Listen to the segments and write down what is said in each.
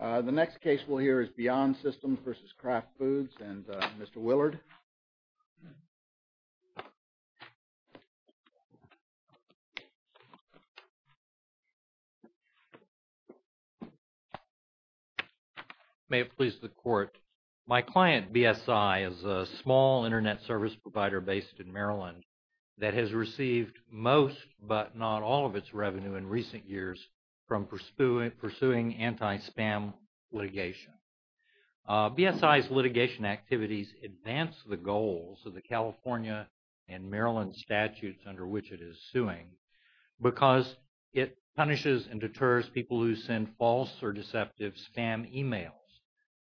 The next case we'll hear is Beyond Systems v. Kraft Foods and Mr. Willard. May it please the Court. My client, BSI, is a small Internet service provider based in Maryland that has received most but not all of its revenue in recent years from pursuing anti-spam litigation. BSI's litigation activities advance the goals of the California and Maryland statutes under which it is suing because it punishes and deters people who send false or deceptive spam emails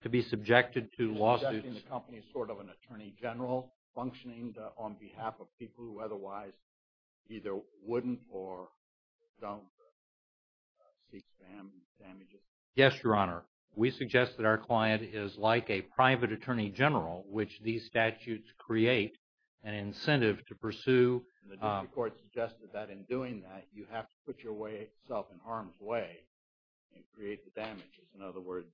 to be subjected to lawsuits. Are you suggesting the company is sort of an attorney general functioning on behalf of people who otherwise either wouldn't or don't seek spam damages? Yes, Your Honor. We suggest that our client is like a private attorney general, which these statutes create an incentive to pursue. And the district court suggested that in doing that, you have to put yourself in harm's way and create the damages. In other words,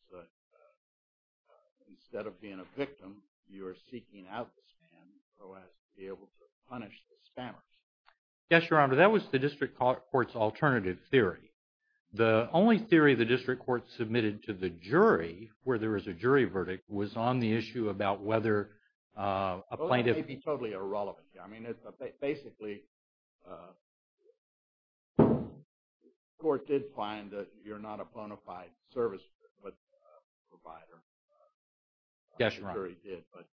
instead of being a victim, you are seeking out the spam, or else be able to punish the spammers. Yes, Your Honor, that was the district court's alternative theory. The only theory the district court submitted to the jury, where there was a jury verdict, was on the issue about whether a plaintiff… Well, that may be totally irrelevant. I mean, basically, the court did find that you're not a bona fide service provider. Yes, Your Honor. The jury did, but…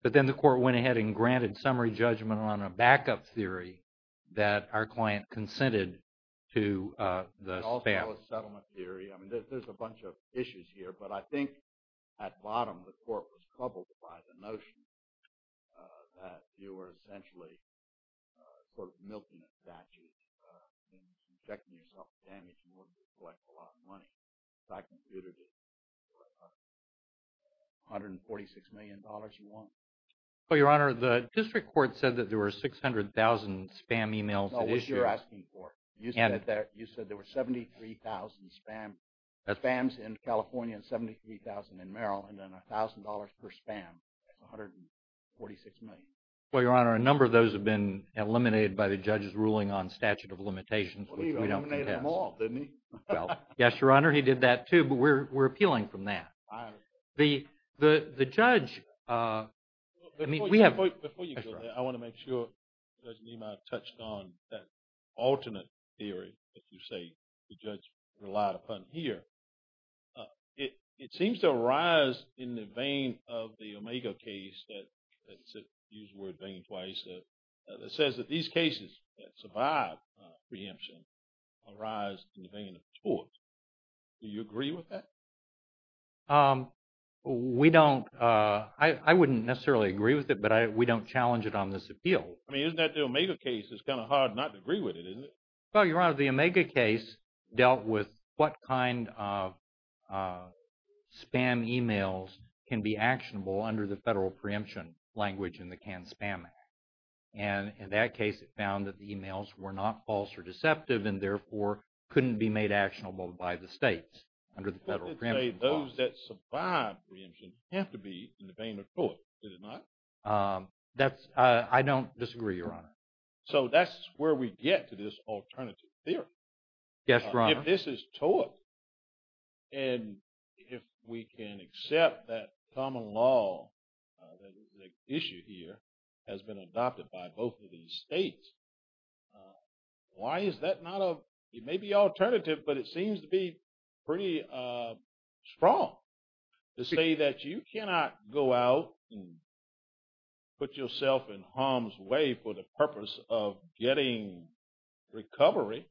But then the court went ahead and granted summary judgment on a backup theory that our client consented to the spam. It's also a settlement theory. I mean, there's a bunch of issues here, but I think at bottom, the court was troubled by the notion that you were essentially sort of milking a statute. You're injecting yourself with damage in order to collect a lot of money. So I concluded it was $146 million you want. Well, Your Honor, the district court said that there were 600,000 spam emails at issue. No, which you're asking for. You said there were 73,000 spams in California and 73,000 in Maryland, and $1,000 per spam. That's $146 million. Well, Your Honor, a number of those have been eliminated by the judge's ruling on statute of limitations, which we don't contest. Well, he eliminated them all, didn't he? Well, yes, Your Honor, he did that too, but we're appealing from that. I understand. The judge… Before you go there, I want to make sure Judge Nima touched on that alternate theory that you say the judge relied upon here. It seems to arise in the vein of the Omega case that says that these cases that survive preemption arise in the vein of tort. Do you agree with that? We don't. I wouldn't necessarily agree with it, but we don't challenge it on this appeal. I mean, isn't that the Omega case? It's kind of hard not to agree with it, isn't it? Well, Your Honor, the Omega case dealt with what kind of spam e-mails can be actionable under the federal preemption language in the Cannes Spam Act. And in that case, it found that the e-mails were not false or deceptive and therefore couldn't be made actionable by the states under the federal preemption law. Those that survive preemption have to be in the vein of tort, did it not? I don't disagree, Your Honor. So that's where we get to this alternative theory. Yes, Your Honor. And if we can accept that common law, that is the issue here, has been adopted by both of these states, why is that not a – it may be alternative, but it seems to be pretty strong to say that you cannot go out and put yourself in harm's way for the purpose of getting recovery.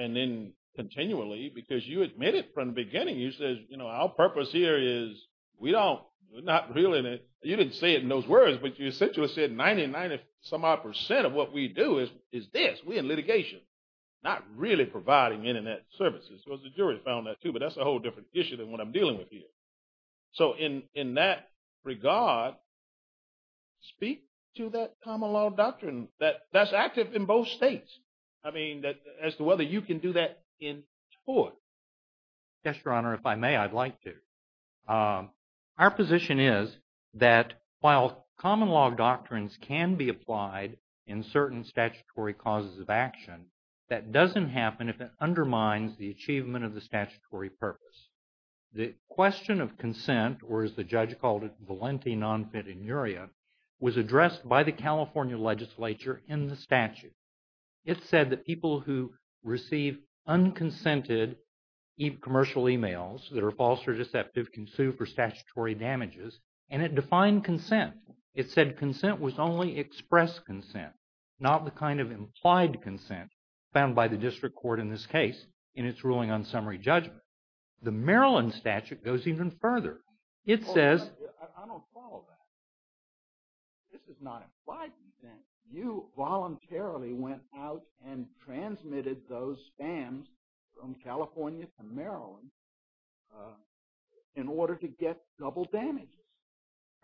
And then continually, because you admitted from the beginning, you said, you know, our purpose here is we don't – we're not really – you didn't say it in those words, but you essentially said 90, 90 some odd percent of what we do is this, we're in litigation, not really providing Internet services. So the jury found that too, but that's a whole different issue than what I'm dealing with here. So in that regard, speak to that common law doctrine that's active in both states. I mean, as to whether you can do that in tort. Yes, Your Honor, if I may, I'd like to. Our position is that while common law doctrines can be applied in certain statutory causes of action, that doesn't happen if it undermines the achievement of the statutory purpose. The question of consent, or as the judge called it, valenti non finituria, was addressed by the California legislature in the statute. It said that people who receive unconsented commercial emails that are false or deceptive can sue for statutory damages, and it defined consent. It said consent was only expressed consent, not the kind of implied consent found by the district court in this case in its ruling on summary judgment. The Maryland statute goes even further. I don't follow that. This is not implied consent. You voluntarily went out and transmitted those spams from California to Maryland in order to get double damages.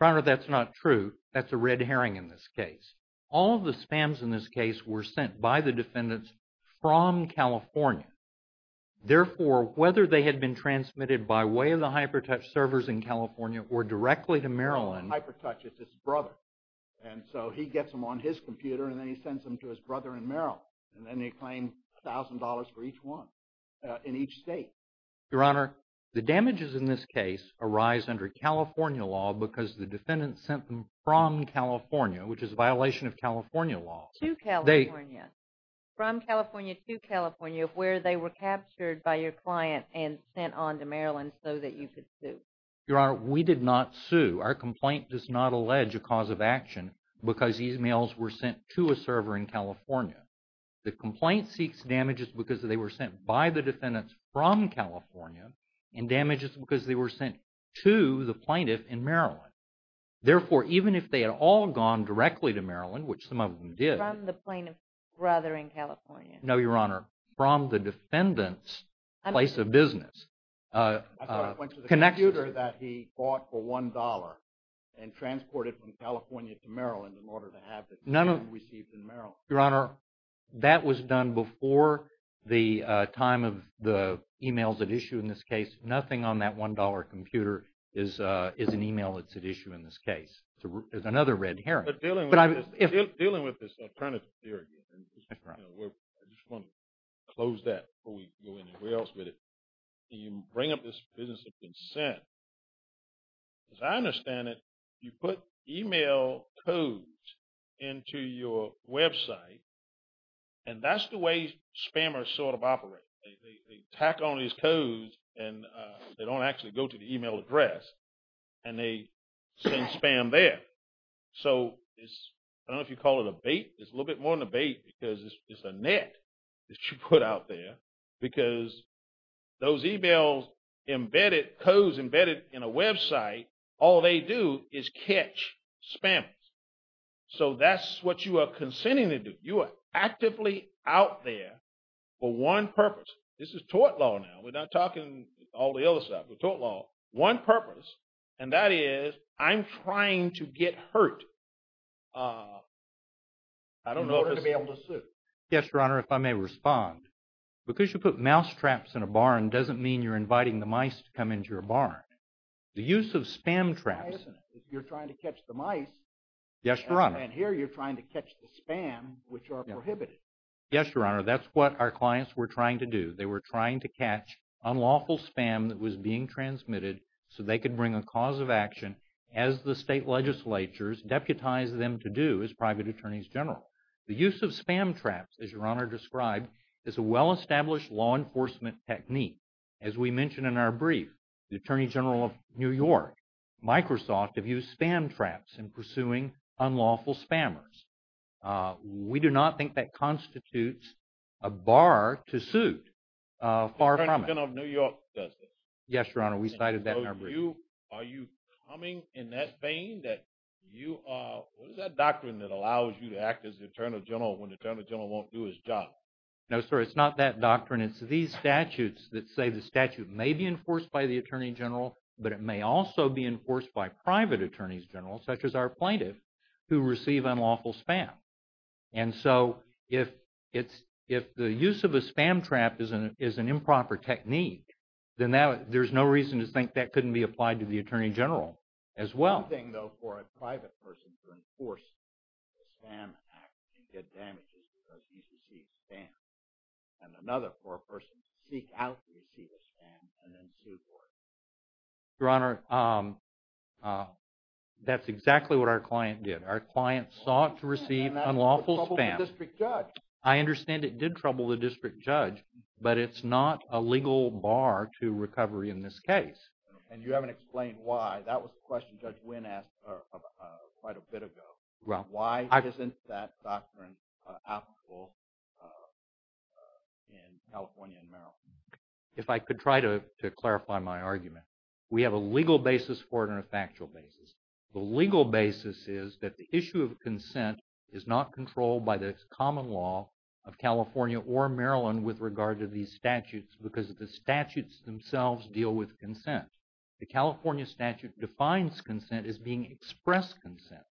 Your Honor, that's not true. That's a red herring in this case. All the spams in this case were sent by the defendants from California. Therefore, whether they had been transmitted by way of the HyperTouch servers in California or directly to Maryland… HyperTouch is his brother, and so he gets them on his computer and then he sends them to his brother in Maryland, and then they claim $1,000 for each one in each state. Your Honor, the damages in this case arise under California law because the defendants sent them from California, which is a violation of California law. To California. From California to California where they were captured by your client and sent on to Maryland so that you could sue. Your Honor, we did not sue. Our complaint does not allege a cause of action because these mails were sent to a server in California. The complaint seeks damages because they were sent by the defendants from California and damages because they were sent to the plaintiff in Maryland. Therefore, even if they had all gone directly to Maryland, which some of them did… From the plaintiff's brother in California. No, Your Honor. From the defendant's place of business. I thought it went to the computer that he bought for $1 and transported from California to Maryland in order to have it received in Maryland. Your Honor, that was done before the time of the emails at issue in this case. Nothing on that $1 computer is an email that's at issue in this case. There's another red herring. Dealing with this alternative theory, I just want to close that before we go anywhere else with it. You bring up this business of consent. As I understand it, you put email codes into your website and that's the way spammers sort of operate. They tack on these codes and they don't actually go to the email address and they send spam there. So, I don't know if you call it a bait. It's a little bit more than a bait because it's a net that you put out there. Because those emails embedded, codes embedded in a website, all they do is catch spammers. So, that's what you are consenting to do. You are actively out there for one purpose. This is tort law now. We're not talking all the other stuff. One purpose, and that is I'm trying to get hurt in order to be able to sue. Yes, Your Honor, if I may respond. Because you put mousetraps in a barn doesn't mean you're inviting the mice to come into your barn. The use of spam traps. If you're trying to catch the mice. Yes, Your Honor. And here you're trying to catch the spam, which are prohibited. Yes, Your Honor. That's what our clients were trying to do. Unlawful spam that was being transmitted so they could bring a cause of action as the state legislatures deputized them to do as private attorneys general. The use of spam traps, as Your Honor described, is a well-established law enforcement technique. As we mentioned in our brief, the Attorney General of New York, Microsoft, have used spam traps in pursuing unlawful spammers. We do not think that constitutes a bar to suit far from it. The Attorney General of New York does this. Yes, Your Honor, we cited that in our brief. Are you coming in that vein that you are – what is that doctrine that allows you to act as the Attorney General when the Attorney General won't do his job? Your Honor, it's these statutes that say the statute may be enforced by the Attorney General, but it may also be enforced by private attorneys general, such as our plaintiff, who receive unlawful spam. And so if the use of a spam trap is an improper technique, then there's no reason to think that couldn't be applied to the Attorney General as well. It's one thing, though, for a private person to enforce a spam act and get damages because he's received spam, and another for a person to seek out to receive a spam and then sue for it. Your Honor, that's exactly what our client did. Our client sought to receive unlawful spam. And that troubled the district judge. I understand it did trouble the district judge, but it's not a legal bar to recovery in this case. And you haven't explained why. That was the question Judge Wynn asked quite a bit ago. Why isn't that doctrine applicable in California and Maryland? If I could try to clarify my argument. We have a legal basis for it and a factual basis. The legal basis is that the issue of consent is not controlled by the common law of California or Maryland with regard to these statutes because the statutes themselves deal with consent. The California statute defines consent as being express consent,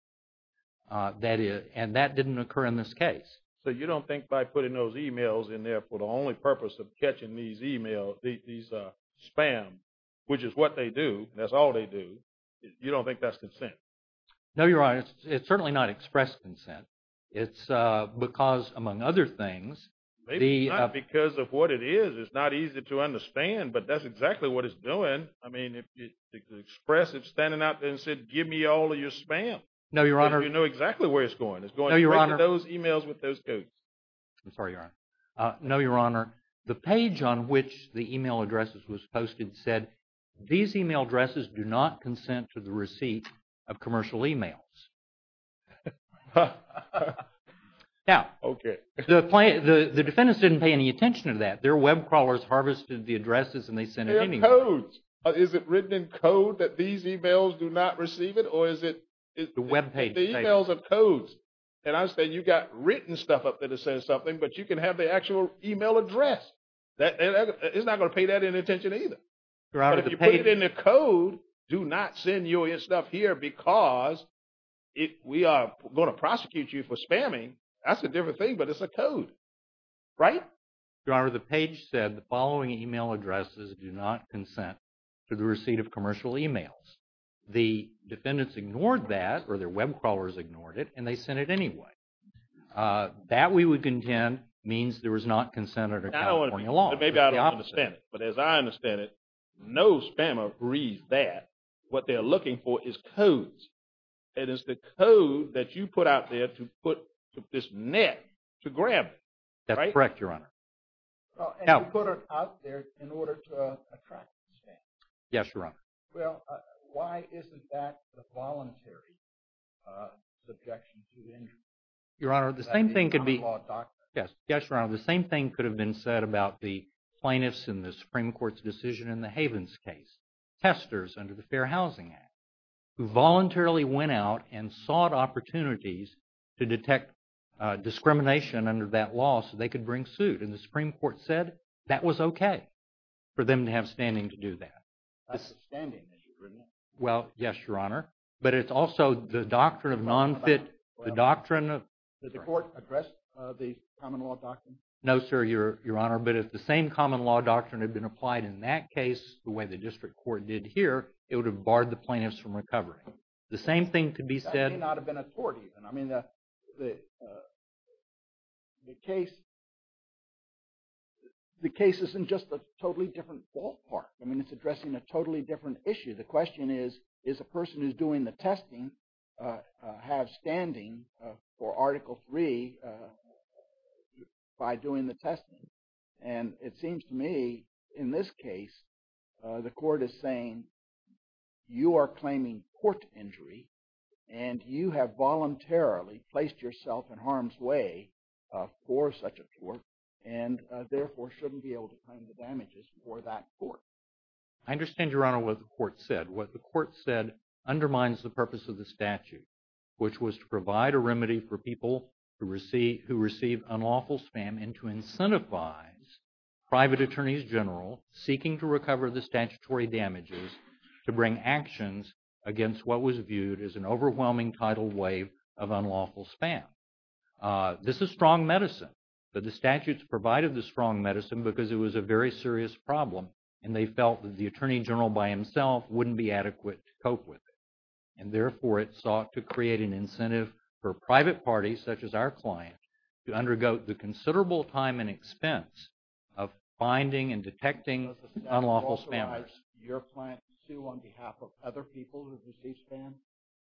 and that didn't occur in this case. So you don't think by putting those e-mails in there for the only purpose of catching these e-mails, these spam, which is what they do, that's all they do, you don't think that's consent? No, Your Honor. It's certainly not express consent. It's because, among other things. Maybe not because of what it is. It's not easy to understand, but that's exactly what it's doing. I mean, if you express it standing out there and said, give me all of your spam. No, Your Honor. You know exactly where it's going. It's going to those e-mails with those codes. I'm sorry, Your Honor. No, Your Honor. The page on which the e-mail addresses was posted said, these e-mail addresses do not consent to the receipt of commercial e-mails. Now. Okay. The defendant didn't pay any attention to that. Their web crawlers harvested the addresses and they sent it anyway. They have codes. Is it written in code that these e-mails do not receive it or is it? The web page. The e-mails have codes. And I understand you've got written stuff up there that says something, but you can have the actual e-mail address. It's not going to pay that any attention either. Your Honor, the page. But if you put it in a code, do not send your stuff here because if we are going to prosecute you for spamming, that's a different thing, but it's a code. Right? Your Honor, the page said the following e-mail addresses do not consent to the receipt of commercial e-mails. The defendants ignored that, or their web crawlers ignored it, and they sent it anyway. That we would contend means there was not consent under California law. But maybe I don't understand it. But as I understand it, no spammer reads that. What they're looking for is codes. It is the code that you put out there to put this net to grab it. That's correct, Your Honor. And you put it out there in order to attract the spam. Yes, Your Honor. Well, why isn't that a voluntary objection to injury? Your Honor, the same thing could be. Is that in common law doctrine? Yes, Your Honor. The same thing could have been said about the plaintiffs in the Supreme Court's decision in the Havens case. Testers under the Fair Housing Act who voluntarily went out and sought opportunities to detect discrimination under that law so they could bring suit. And the Supreme Court said that was okay for them to have standing to do that. That's a standing issue, isn't it? Well, yes, Your Honor. But it's also the doctrine of non-fit, the doctrine of... Did the court address the common law doctrine? No, sir, Your Honor. But if the same common law doctrine had been applied in that case the way the district court did here, it would have barred the plaintiffs from recovery. The same thing could be said... That may not have been a tort even. I mean, the case isn't just a totally different ballpark. I mean, it's addressing a totally different issue. The question is, is a person who's doing the testing have standing for Article III by doing the testing? And it seems to me in this case the court is saying you are claiming tort injury and you have voluntarily placed yourself in harm's way for such a tort and therefore shouldn't be able to claim the damages for that tort. I understand, Your Honor, what the court said. What the court said undermines the purpose of the statute, which was to provide a remedy for people who receive unlawful spam and to incentivize private attorneys general seeking to recover the statutory damages to bring actions against what was viewed as an overwhelming tidal wave of unlawful spam. This is strong medicine, but the statutes provided the strong medicine because it was a very serious problem and they felt that the attorney general by himself wouldn't be adequate to cope with it. And therefore it sought to create an incentive for private parties, such as our client, to undergo the considerable time and expense of finding and detecting unlawful spammers. Does the statute authorize your client to sue on behalf of other people who receive spam?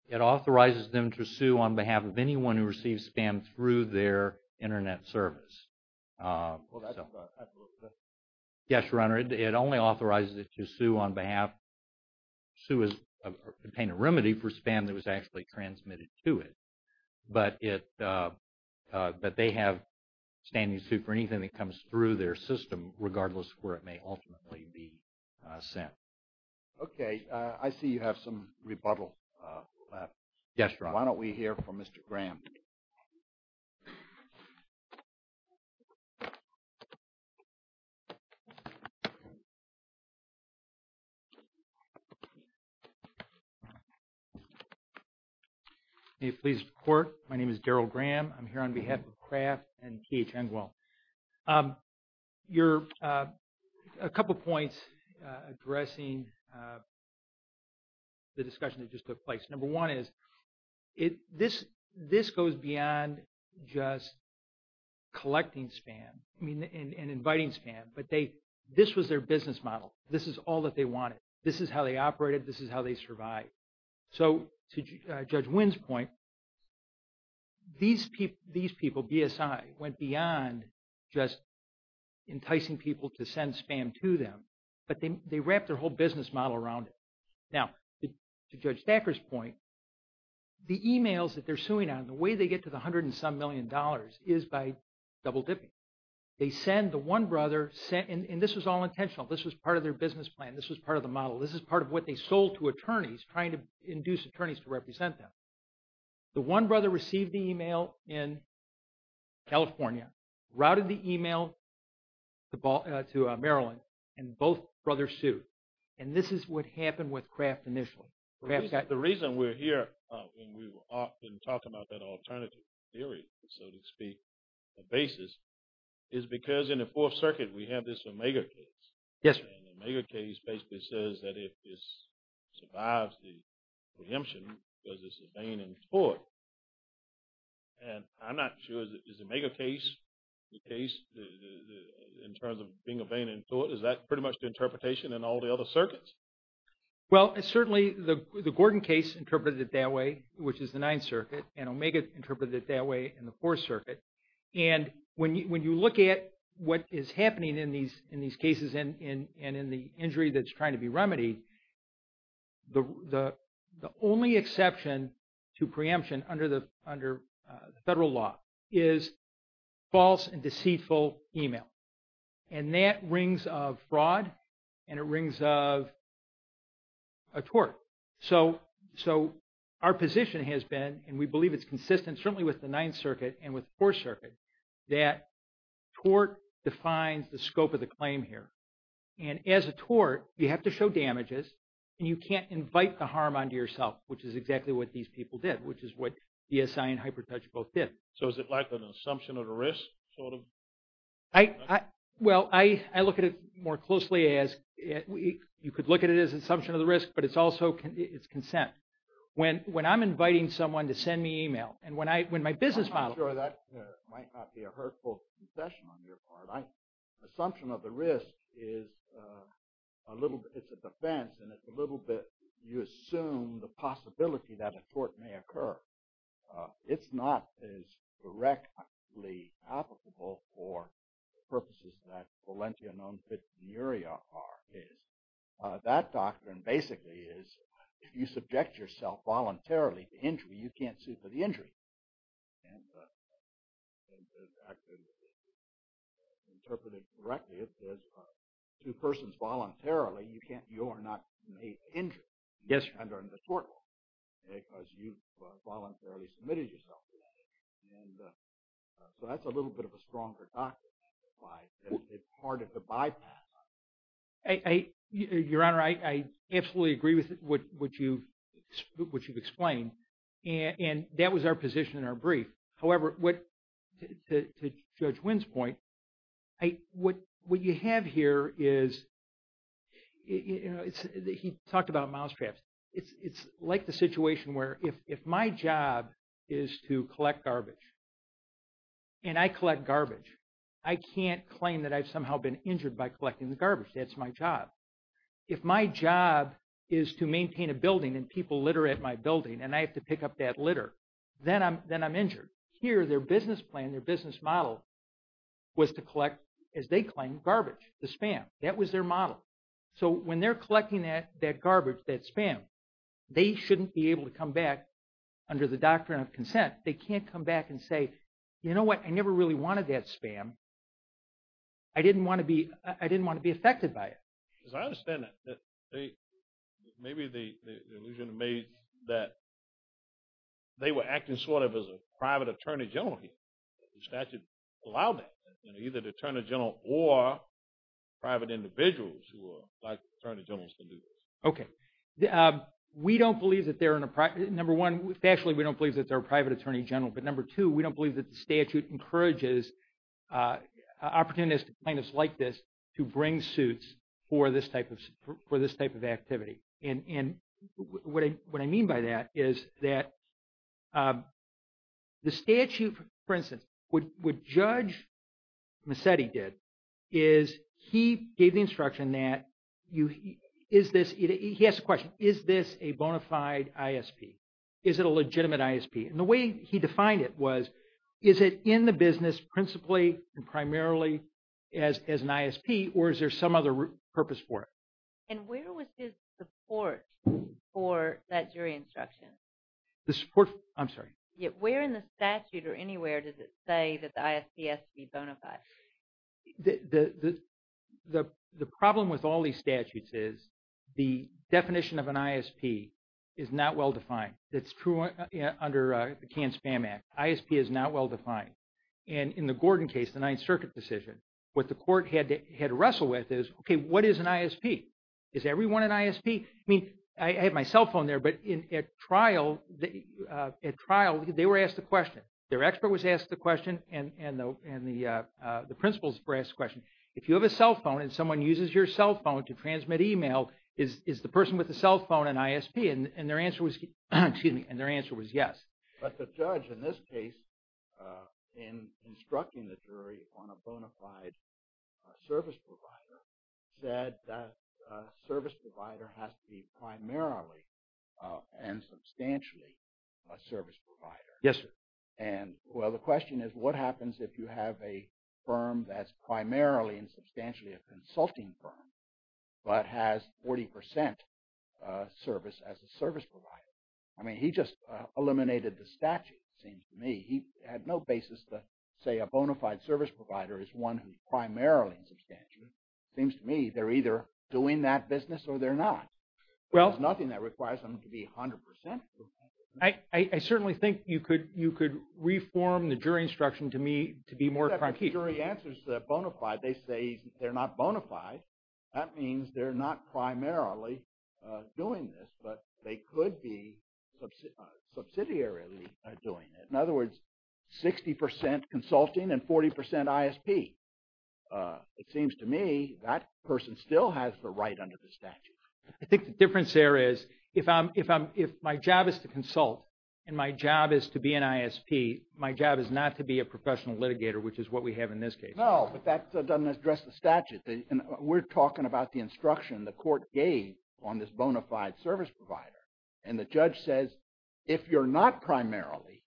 It authorizes them to sue on behalf of anyone who receives spam through their Internet service. Well, that's a little bit. Yes, Your Honor, it only authorizes it to sue on behalf – sue as – obtain a remedy for spam that was actually transmitted to it. But it – but they have standing suit for anything that comes through their system regardless of where it may ultimately be sent. Okay. I see you have some rebuttal left. Yes, Your Honor. Why don't we hear from Mr. Graham? May it please the Court? My name is Daryl Graham. I'm here on behalf of Kraft and K.H. Engwell. Your – a couple of points addressing the discussion that just took place. Number one is this goes beyond just collecting spam and inviting spam. But they – this was their business model. This is all that they wanted. This is how they operated. This is how they survived. So, to Judge Wynn's point, these people, BSI, went beyond just enticing people to send spam to them. But they wrapped their whole business model around it. Now, to Judge Stacker's point, the emails that they're suing on, the way they get to the hundred and some million dollars is by double-dipping. They send the one brother – and this was all intentional. This was part of their business plan. This was part of the model. This is part of what they sold to attorneys trying to induce attorneys to represent them. The one brother received the email in California, routed the email to Maryland, and both brothers sued. And this is what happened with Kraft initially. The reason we're here and we often talk about that alternative theory, so to speak, the basis, is because in the Fourth Circuit we have this Omega case. Yes, sir. The Omega case basically says that if this survives the preemption because it's a vein in court. And I'm not sure, is the Omega case the case in terms of being a vein in court? Is that pretty much the interpretation in all the other circuits? Well, certainly the Gordon case interpreted it that way, which is the Ninth Circuit, and Omega interpreted it that way in the Fourth Circuit. And when you look at what is happening in these cases and in the injury that's trying to be remedied, the only exception to preemption under the federal law is false and deceitful email. And that rings of fraud and it rings of a tort. So our position has been, and we believe it's consistent certainly with the Ninth Circuit and with the Fourth Circuit, that tort defines the scope of the claim here. And as a tort, you have to show damages and you can't invite the harm onto yourself, which is exactly what these people did, which is what BSI and HyperTouch both did. So is it like an assumption of the risk, sort of? Well, I look at it more closely as, you could look at it as an assumption of the risk, but it's also consent. When I'm inviting someone to send me email, and when my business model… I'm not sure that might not be a hurtful concession on your part. Assumption of the risk is a defense, and you assume the possibility that a tort may occur. It's not as directly applicable for purposes that Valentia non fituria are. That doctrine basically is, if you subject yourself voluntarily to injury, you can't sue for the injury. And it's actually interpreted directly as, two persons voluntarily, you are not made injured under the tort law, because you voluntarily submitted yourself to that injury. And so that's a little bit of a stronger doctrine than it is part of the bypass. Your Honor, I absolutely agree with what you've explained, and that was our position in our brief. However, to Judge Wynn's point, what you have here is, he talked about mousetraps. It's like the situation where if my job is to collect garbage, and I collect garbage, I can't claim that I've somehow been injured by collecting the garbage. That's my job. If my job is to maintain a building and people litter at my building, and I have to pick up that litter, then I'm injured. Here, their business plan, their business model was to collect, as they claim, garbage, the spam. That was their model. So when they're collecting that garbage, that spam, they shouldn't be able to come back under the doctrine of consent. They can't come back and say, you know what, I never really wanted that spam. I didn't want to be affected by it. As I understand it, maybe the illusion made that they were acting sort of as a private attorney general here. The statute allowed that, either the attorney general or private individuals who are like attorney generals can do this. Okay. We don't believe that they're in a – number one, factually, we don't believe that they're a private attorney general. But number two, we don't believe that the statute encourages opportunistic plaintiffs like this to bring suits for this type of activity. And what I mean by that is that the statute, for instance, what Judge Massetti did is he gave the instruction that you – is this – he asked the question, is this a bona fide ISP? Is it a legitimate ISP? And the way he defined it was, is it in the business principally and primarily as an ISP, or is there some other purpose for it? And where was his support for that jury instruction? The support – I'm sorry. Where in the statute or anywhere does it say that the ISP has to be bona fide? The problem with all these statutes is the definition of an ISP is not well-defined. That's true under the Canned Spam Act. ISP is not well-defined. And in the Gordon case, the Ninth Circuit decision, what the court had to wrestle with is, okay, what is an ISP? Is everyone an ISP? I mean, I have my cell phone there, but at trial, they were asked the question. Their expert was asked the question and the principals were asked the question. If you have a cell phone and someone uses your cell phone to transmit email, is the person with the cell phone an ISP? And their answer was yes. But the judge in this case, in instructing the jury on a bona fide service provider, said that service provider has to be primarily and substantially a service provider. Yes, sir. And, well, the question is what happens if you have a firm that's primarily and substantially a consulting firm but has 40 percent service as a service provider? I mean, he just eliminated the statute, it seems to me. He had no basis to say a bona fide service provider is one who's primarily and substantially. It seems to me they're either doing that business or they're not. There's nothing that requires them to be 100 percent. I certainly think you could reform the jury instruction to me to be more competent. If the jury answers bona fide, they say they're not bona fide, that means they're not primarily doing this. But they could be subsidiarily doing it. In other words, 60 percent consulting and 40 percent ISP. It seems to me that person still has the right under the statute. I think the difference there is if my job is to consult and my job is to be an ISP, my job is not to be a professional litigator, which is what we have in this case. No, but that doesn't address the statute. We're talking about the instruction the court gave on this bona fide service provider. And the judge says if you're not primarily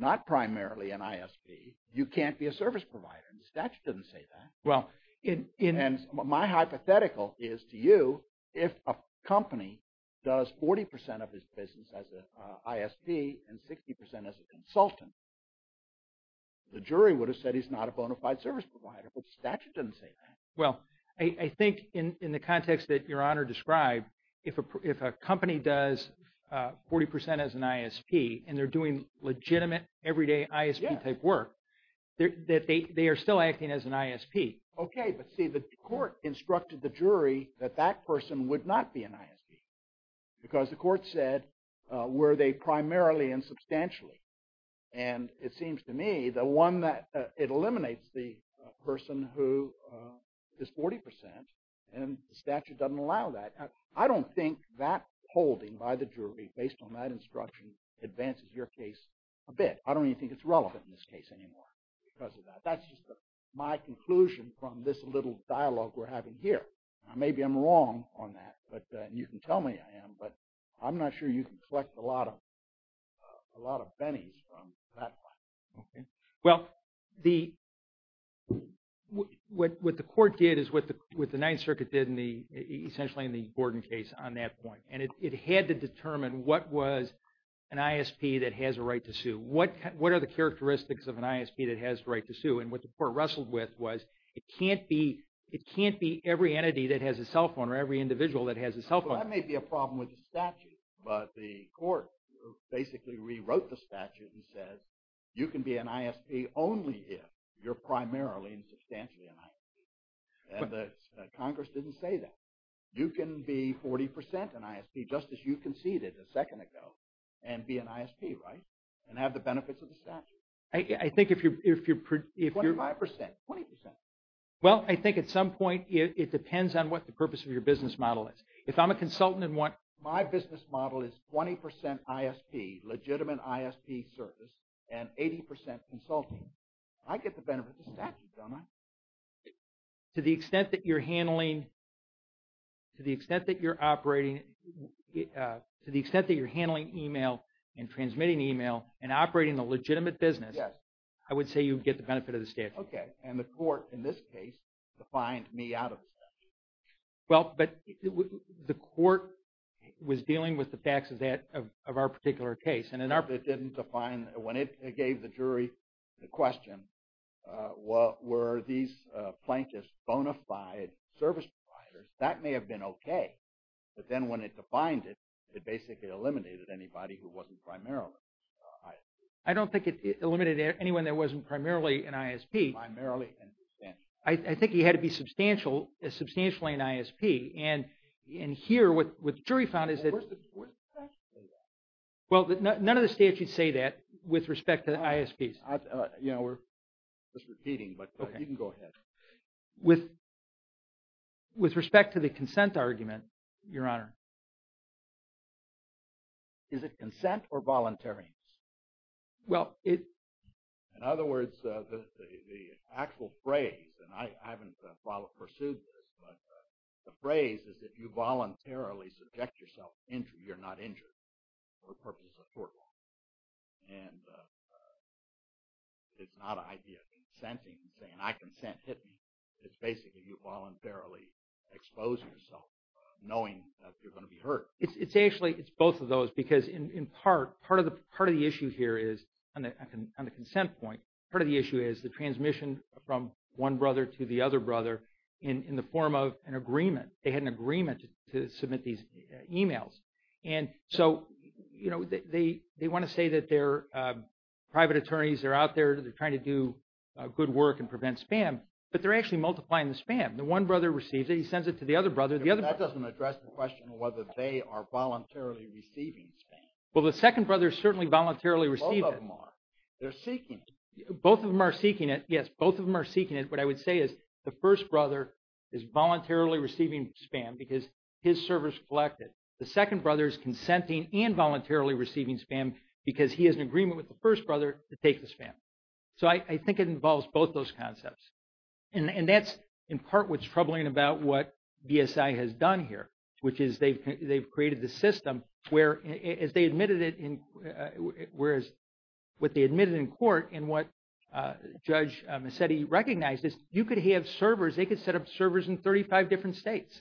an ISP, you can't be a service provider. The statute doesn't say that. And my hypothetical is to you, if a company does 40 percent of its business as an ISP and 60 percent as a consultant, the jury would have said he's not a bona fide service provider. But the statute doesn't say that. Well, I think in the context that Your Honor described, if a company does 40 percent as an ISP and they're doing legitimate, everyday ISP-type work, that they are still acting as an ISP. Okay. But see, the court instructed the jury that that person would not be an ISP because the court said were they primarily and substantially. And it seems to me that it eliminates the person who is 40 percent, and the statute doesn't allow that. I don't think that holding by the jury based on that instruction advances your case a bit. I don't even think it's relevant in this case anymore because of that. That's just my conclusion from this little dialogue we're having here. Maybe I'm wrong on that, and you can tell me I am, but I'm not sure you can collect a lot of pennies from that one. Okay. Well, what the court did is what the Ninth Circuit did essentially in the Gordon case on that point. And it had to determine what was an ISP that has a right to sue. What are the characteristics of an ISP that has a right to sue? And what the court wrestled with was it can't be every entity that has a cell phone or every individual that has a cell phone. That may be a problem with the statute, but the court basically rewrote the statute and says you can be an ISP only if you're primarily and substantially an ISP. And Congress didn't say that. You can be 40 percent an ISP just as you conceded a second ago and be an ISP, right, and have the benefits of the statute. I think if you're... 25 percent, 20 percent. Well, I think at some point it depends on what the purpose of your business model is. If I'm a consultant and want... My business model is 20 percent ISP, legitimate ISP service, and 80 percent consulting. I get the benefit of the statute, don't I? To the extent that you're handling... To the extent that you're operating... To the extent that you're handling email and transmitting email and operating a legitimate business... Yes. I would say you get the benefit of the statute. Okay, and the court in this case defined me out of the statute. Well, but the court was dealing with the facts of that, of our particular case. It didn't define, when it gave the jury the question, were these plaintiffs bona fide service providers, that may have been okay. But then when it defined it, it basically eliminated anybody who wasn't primarily an ISP. I don't think it eliminated anyone that wasn't primarily an ISP. Primarily and substantially. I think he had to be substantially an ISP. And here, what the jury found is that... Well, where's the factual evidence? Well, none of the statutes say that with respect to the ISPs. You know, we're just repeating, but you can go ahead. Okay. With respect to the consent argument, Your Honor... Is it consent or voluntary? Well, it... In other words, the actual phrase, and I haven't pursued this, but the phrase is if you voluntarily subject yourself to injury, you're not injured. For the purposes of court law. And it's not an idea of consenting, saying, I consent, hit me. It's basically you voluntarily expose yourself, knowing that you're going to be hurt. It's actually, it's both of those, because in part, part of the issue here is, on the consent point, part of the issue is the transmission from one brother to the other brother in the form of an agreement. They had an agreement to submit these emails. And so, you know, they want to say that their private attorneys are out there, they're trying to do good work and prevent spam, but they're actually multiplying the spam. The one brother receives it, he sends it to the other brother, the other brother... That doesn't address the question of whether they are voluntarily receiving spam. Well, the second brother certainly voluntarily received it. Both of them are. They're seeking it. Both of them are seeking it. Yes, both of them are seeking it. What I would say is the first brother is voluntarily receiving spam because his service collected. The second brother is consenting and voluntarily receiving spam because he has an agreement with the first brother to take the spam. So I think it involves both those concepts. And that's, in part, what's troubling about what BSI has done here, which is they've created the system where, as they admitted it, whereas what they admitted in court and what Judge Mazzetti recognized is you could have servers, they could set up servers in 35 different states.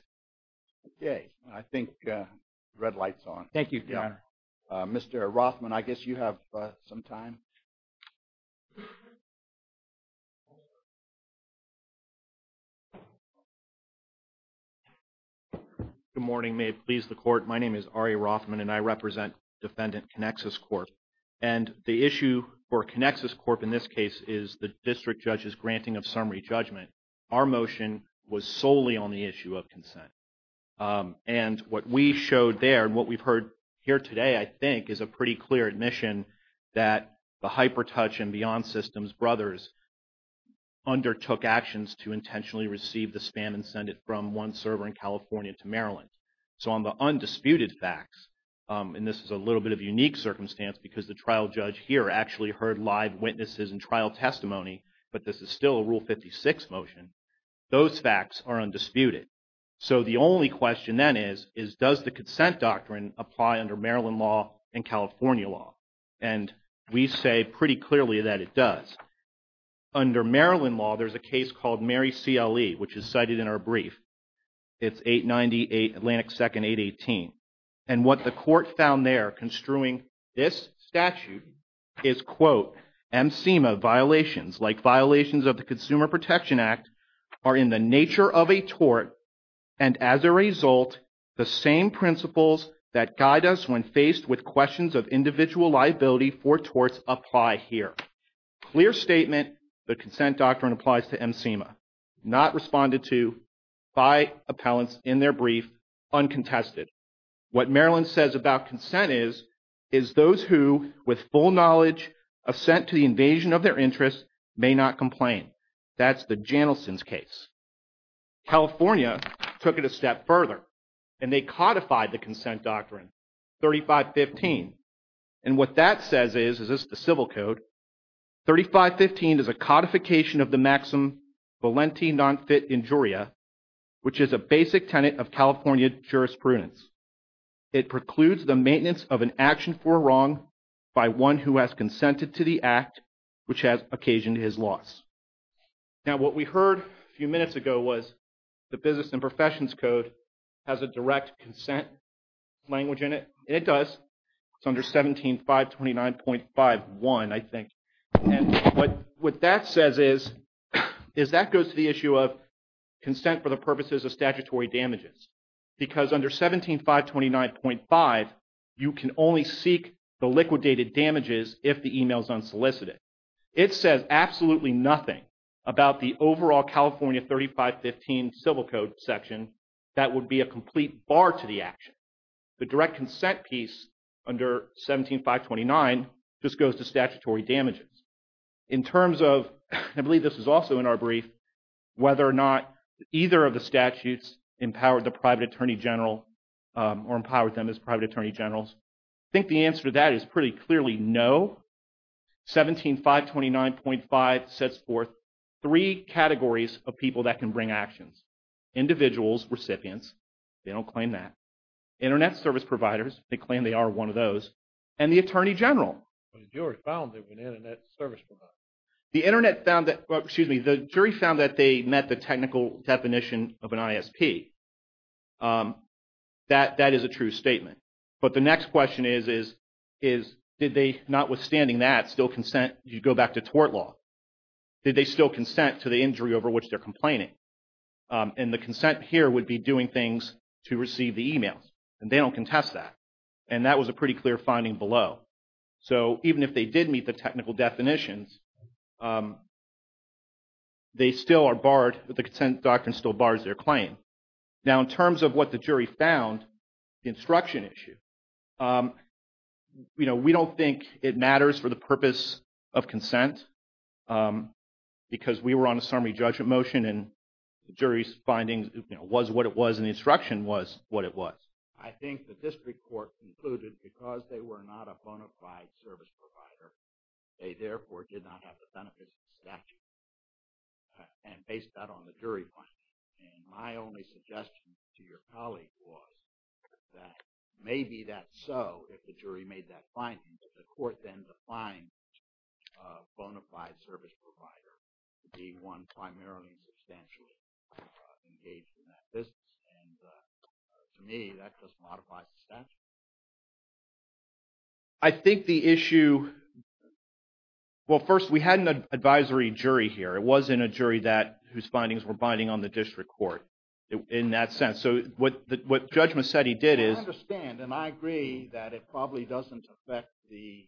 Okay. I think the red light's on. Thank you, Your Honor. Mr. Rothman, I guess you have some time. Good morning. May it please the Court. My name is Ari Rothman, and I represent Defendant Connexus Corp. And the issue for Connexus Corp. in this case is the district judge's granting of summary judgment. And what we showed there and what we've heard here today, I think, is a pretty clear admission that the HyperTouch and Beyond Systems brothers undertook actions to intentionally receive the spam and send it from one server in California to Maryland. So on the undisputed facts, and this is a little bit of a unique circumstance because the trial judge here actually heard live witnesses and trial testimony, but this is still a Rule 56 motion, those facts are undisputed. So the only question then is, is does the consent doctrine apply under Maryland law and California law? And we say pretty clearly that it does. Under Maryland law, there's a case called Mary CLE, which is cited in our brief. It's 898 Atlantic 2nd, 818. And what the Court found there construing this statute is, quote, MCMA violations, like violations of the Consumer Protection Act, are in the nature of a tort. And as a result, the same principles that guide us when faced with questions of individual liability for torts apply here. Clear statement, the consent doctrine applies to MCMA. Not responded to by appellants in their brief, uncontested. What Maryland says about consent is, is those who with full knowledge assent to the invasion of their interest may not complain. That's the Janelson's case. California took it a step further and they codified the consent doctrine, 3515. And what that says is, this is the civil code. 3515 is a codification of the maxim Valenti non fit injuria, which is a basic tenet of California jurisprudence. It precludes the maintenance of an action for wrong by one who has consented to the act which has occasioned his loss. Now what we heard a few minutes ago was the business and professions code has a direct consent language in it. And it does. It's under 17529.51, I think. And what that says is, is that goes to the issue of consent for the purposes of statutory damages. Because under 17529.5, you can only seek the liquidated damages if the email is unsolicited. It says absolutely nothing about the overall California 3515 civil code section that would be a complete bar to the action. The direct consent piece under 17529 just goes to statutory damages. In terms of, I believe this is also in our brief, whether or not either of the statutes empowered the private attorney general or empowered them as private attorney generals. I think the answer to that is pretty clearly no. 17529.5 sets forth three categories of people that can bring actions. Individuals, recipients, they don't claim that. Internet service providers, they claim they are one of those. And the attorney general. But the jury found they were an internet service provider. The internet found that, excuse me, the jury found that they met the technical definition of an ISP. That is a true statement. But the next question is, did they, notwithstanding that, still consent, you go back to tort law. Did they still consent to the injury over which they're complaining? And the consent here would be doing things to receive the emails. And they don't contest that. And that was a pretty clear finding below. So even if they did meet the technical definitions, they still are barred, the consent doctrine still bars their claim. Now, in terms of what the jury found, the instruction issue, we don't think it matters for the purpose of consent. Because we were on a summary judgment motion, and the jury's findings was what it was, and the instruction was what it was. I think the district court concluded because they were not a bona fide service provider, they therefore did not have the benefits of statute. And based that on the jury finding. And my only suggestion to your colleague was that maybe that's so if the jury made that finding. But the court then defined a bona fide service provider to be one primarily substantially engaged in that business. And to me, that just modifies the statute. I think the issue, well, first, we had an advisory jury here. It wasn't a jury whose findings were binding on the district court in that sense. So what Judge Macedi did is. I understand, and I agree that it probably doesn't affect the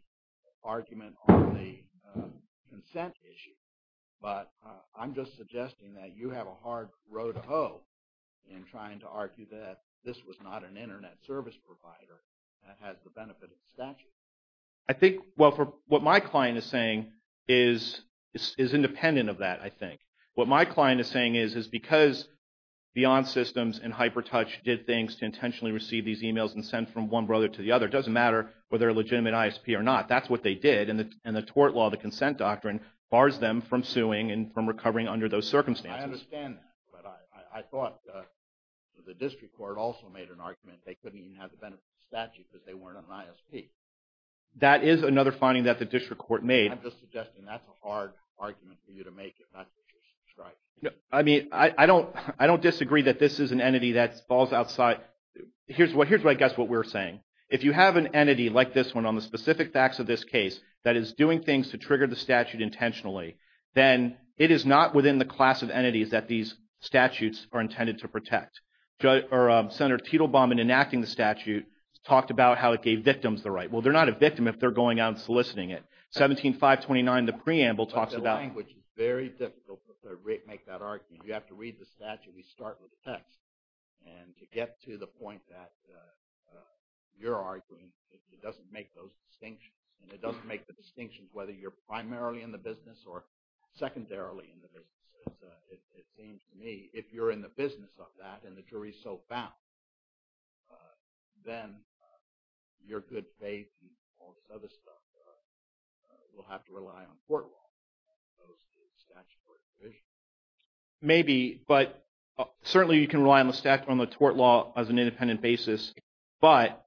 argument on the consent issue. But I'm just suggesting that you have a hard row to hoe in trying to argue that this was not an Internet service provider that has the benefit of statute. I think, well, what my client is saying is independent of that, I think. What my client is saying is, is because Beyond Systems and HyperTouch did things to intentionally receive these emails and send from one brother to the other, it doesn't matter whether they're a legitimate ISP or not. That's what they did, and the tort law, the consent doctrine, bars them from suing and from recovering under those circumstances. I understand that, but I thought the district court also made an argument they couldn't even have the benefit of statute because they weren't on an ISP. That is another finding that the district court made. I'm just suggesting that's a hard argument for you to make if not that you're subscribed. I mean, I don't disagree that this is an entity that falls outside. Here's what I guess what we're saying. If you have an entity like this one on the specific facts of this case that is doing things to trigger the statute intentionally, then it is not within the class of entities that these statutes are intended to protect. Senator Tittlebaum, in enacting the statute, talked about how it gave victims the right. Well, they're not a victim if they're going out and soliciting it. 17-529, the preamble talks about – But the language is very difficult to make that argument. I mean, you have to read the statute. We start with the text. And to get to the point that you're arguing, it doesn't make those distinctions. And it doesn't make the distinctions whether you're primarily in the business or secondarily in the business. It seems to me if you're in the business of that and the jury is so bound, then your good faith and all this other stuff will have to rely on court law as opposed to statutory provision. Maybe, but certainly you can rely on the tort law as an independent basis. But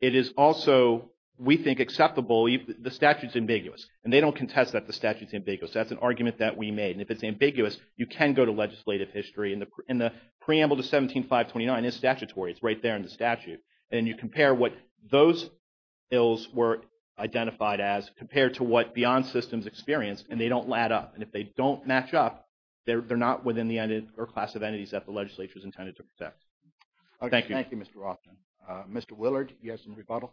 it is also, we think, acceptable. The statute is ambiguous. And they don't contest that the statute is ambiguous. That's an argument that we made. And if it's ambiguous, you can go to legislative history. And the preamble to 17-529 is statutory. It's right there in the statute. And you compare what those ills were identified as compared to what beyond systems experienced, and they don't add up. And if they don't match up, they're not within the class of entities that the legislature is intended to protect. Thank you. Thank you, Mr. Rothman. Mr. Willard, do you have some rebuttal?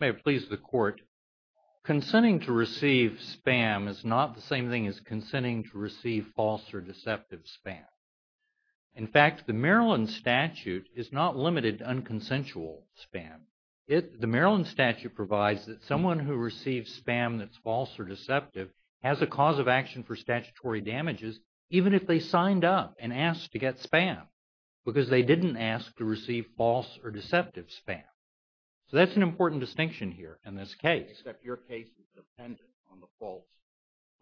May it please the Court. Consenting to receive spam is not the same thing as consenting to receive false or deceptive spam. In fact, the Maryland statute is not limited to unconsensual spam. The Maryland statute provides that someone who receives spam that's false or deceptive has a cause of action for statutory damages, even if they signed up and asked to get spam, because they didn't ask to receive false or deceptive spam. So that's an important distinction here in this case. Except your case is dependent on the false,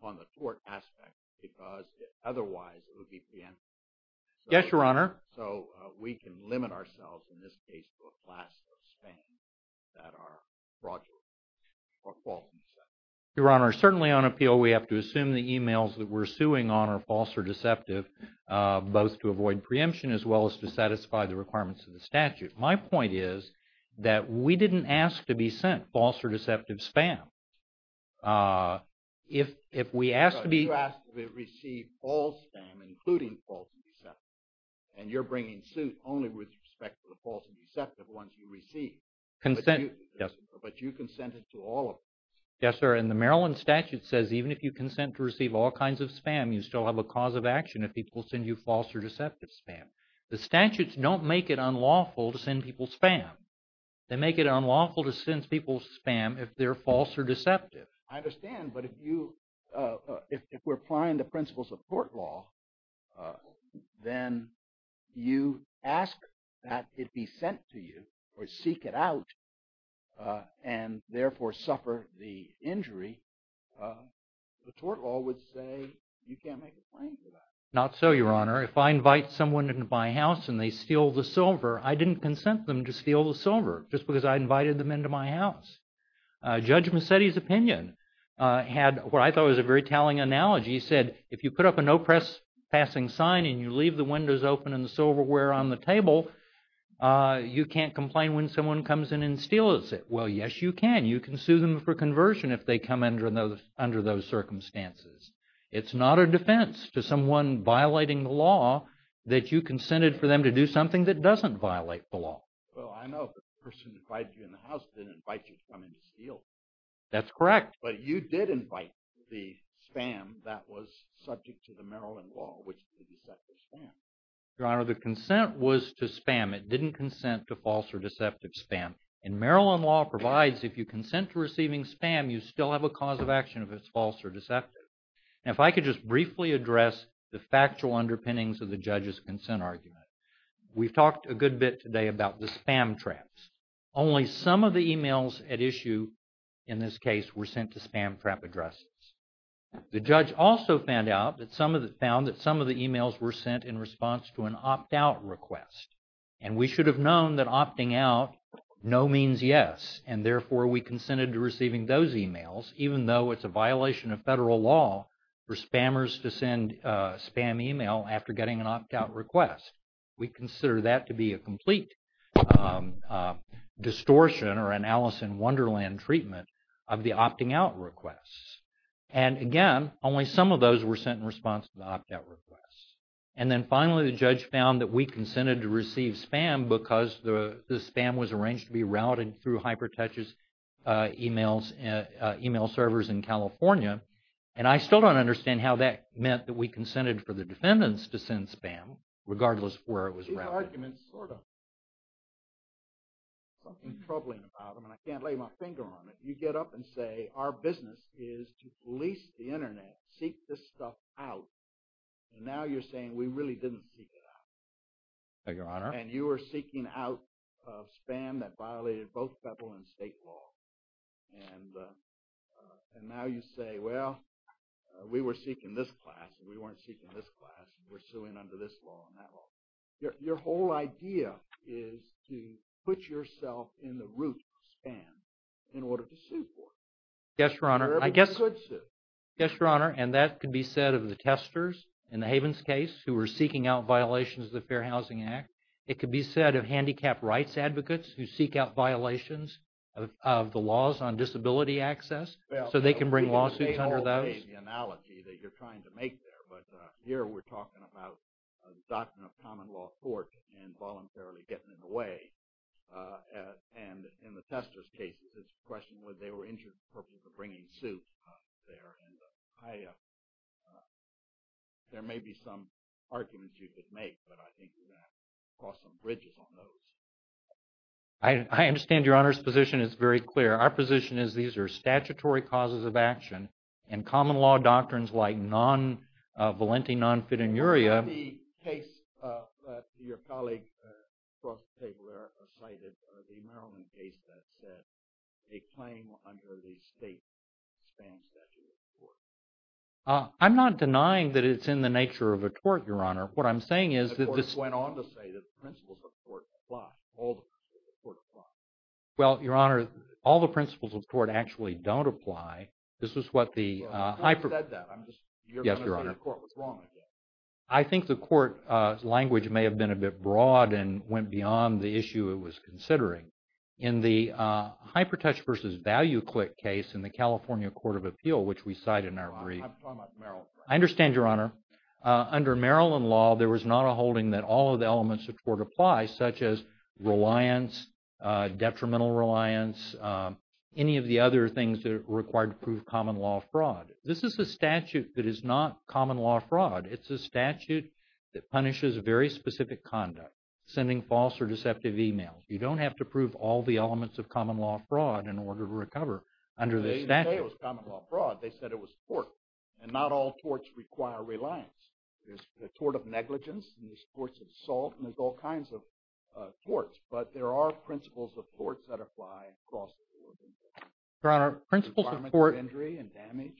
on the tort aspect, because otherwise it would be preemptible. Yes, Your Honor. So we can limit ourselves in this case to a class of spam that are fraudulent or false or deceptive. Your Honor, certainly on appeal we have to assume the emails that we're suing on are false or deceptive, both to avoid preemption as well as to satisfy the requirements of the statute. My point is that we didn't ask to be sent false or deceptive spam. You asked to receive all spam, including false and deceptive. And you're bringing suit only with respect to the false and deceptive ones you receive. But you consented to all of them. Yes, sir. And the Maryland statute says even if you consent to receive all kinds of spam, you still have a cause of action if people send you false or deceptive spam. The statutes don't make it unlawful to send people spam. They make it unlawful to send people spam if they're false or deceptive. I understand. But if you – if we're applying the principles of court law, then you ask that it be sent to you or seek it out and therefore suffer the injury. The court law would say you can't make a claim to that. Not so, Your Honor. If I invite someone into my house and they steal the silver, I didn't consent them to steal the silver just because I invited them into my house. Judge Massetti's opinion had what I thought was a very telling analogy. He said if you put up a no-press passing sign and you leave the windows open and the silverware on the table, you can't complain when someone comes in and steals it. Well, yes, you can. You can sue them for conversion if they come under those circumstances. It's not a defense to someone violating the law that you consented for them to do something that doesn't violate the law. Well, I know the person who invited you in the house didn't invite you to come in to steal. That's correct. But you did invite the spam that was subject to the Maryland law, which is the deceptive spam. Your Honor, the consent was to spam. It didn't consent to false or deceptive spam. And Maryland law provides if you consent to receiving spam, you still have a cause of action if it's false or deceptive. Now, if I could just briefly address the factual underpinnings of the judge's consent argument. We've talked a good bit today about the spam traps. Only some of the emails at issue in this case were sent to spam trap addresses. The judge also found that some of the emails were sent in response to an opt-out request. And we should have known that opting out, no means yes. And therefore, we consented to receiving those emails, even though it's a violation of federal law for spammers to send spam email after getting an opt-out request. We consider that to be a complete distortion or an Alice in Wonderland treatment of the opting out requests. And again, only some of those were sent in response to the opt-out requests. And then finally, the judge found that we consented to receive spam because the spam was arranged to be routed through HyperTouch's email servers in California. And I still don't understand how that meant that we consented for the defendants to send spam, regardless of where it was routed. These arguments sort of have something troubling about them, and I can't lay my finger on it. You get up and say, our business is to police the internet, seek this stuff out. And now you're saying we really didn't seek it out. Thank you, Your Honor. And you were seeking out spam that violated both federal and state law. And now you say, well, we were seeking this class, and we weren't seeking this class, and we're suing under this law and that law. Your whole idea is to put yourself in the root of spam in order to sue for it. Yes, Your Honor. Wherever you could sue. Yes, Your Honor. And that could be said of the testers in the Havens case who were seeking out violations of the Fair Housing Act. It could be said of handicapped rights advocates who seek out violations of the laws on disability access so they can bring lawsuits under those. I don't see the analogy that you're trying to make there, but here we're talking about the doctrine of common law court and voluntarily getting in the way. And in the testers' cases, the question was they were injured for the purpose of bringing suit there. And I – there may be some arguments you could make, but I think you're going to have to cross some bridges on those. I understand Your Honor's position is very clear. Our position is these are statutory causes of action, and common law doctrines like non-valenti non-fidelity. What about the case that your colleague across the table there cited, the Maryland case that said a claim under the state spam statute was a tort? I'm not denying that it's in the nature of a tort, Your Honor. What I'm saying is that this – The court went on to say that the principles of the court apply. All the principles of the court apply. Well, Your Honor, all the principles of the court actually don't apply. This is what the – I said that. I'm just – Yes, Your Honor. You're going to say the court was wrong again. I think the court language may have been a bit broad and went beyond the issue it was considering. In the hyper touch versus value click case in the California Court of Appeal, which we cite in our brief – I'm talking about Maryland. I understand, Your Honor. Under Maryland law, there was not a holding that all of the elements of the court apply, such as reliance, detrimental reliance, any of the other things that are required to prove common law fraud. This is a statute that is not common law fraud. It's a statute that punishes very specific conduct, sending false or deceptive emails. You don't have to prove all the elements of common law fraud in order to recover under this statute. They said it was tort, and not all torts require reliance. There's the tort of negligence, and there's torts of assault, and there's all kinds of torts. But there are principles of torts that apply across the board. Your Honor, principles of tort – Environmental injury and damage.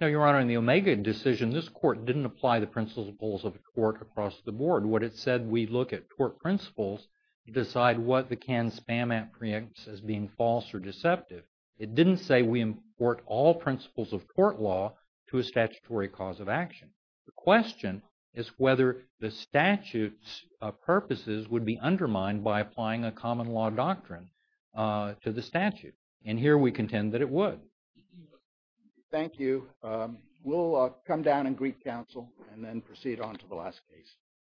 No, Your Honor. In the Omega decision, this court didn't apply the principles of a tort across the board. What it said, we look at tort principles to decide what the canned spam app preempts as being false or deceptive. It didn't say we import all principles of tort law to a statutory cause of action. The question is whether the statute's purposes would be undermined by applying a common law doctrine to the statute. And here we contend that it would. Thank you. We'll come down and greet counsel and then proceed on to the last case.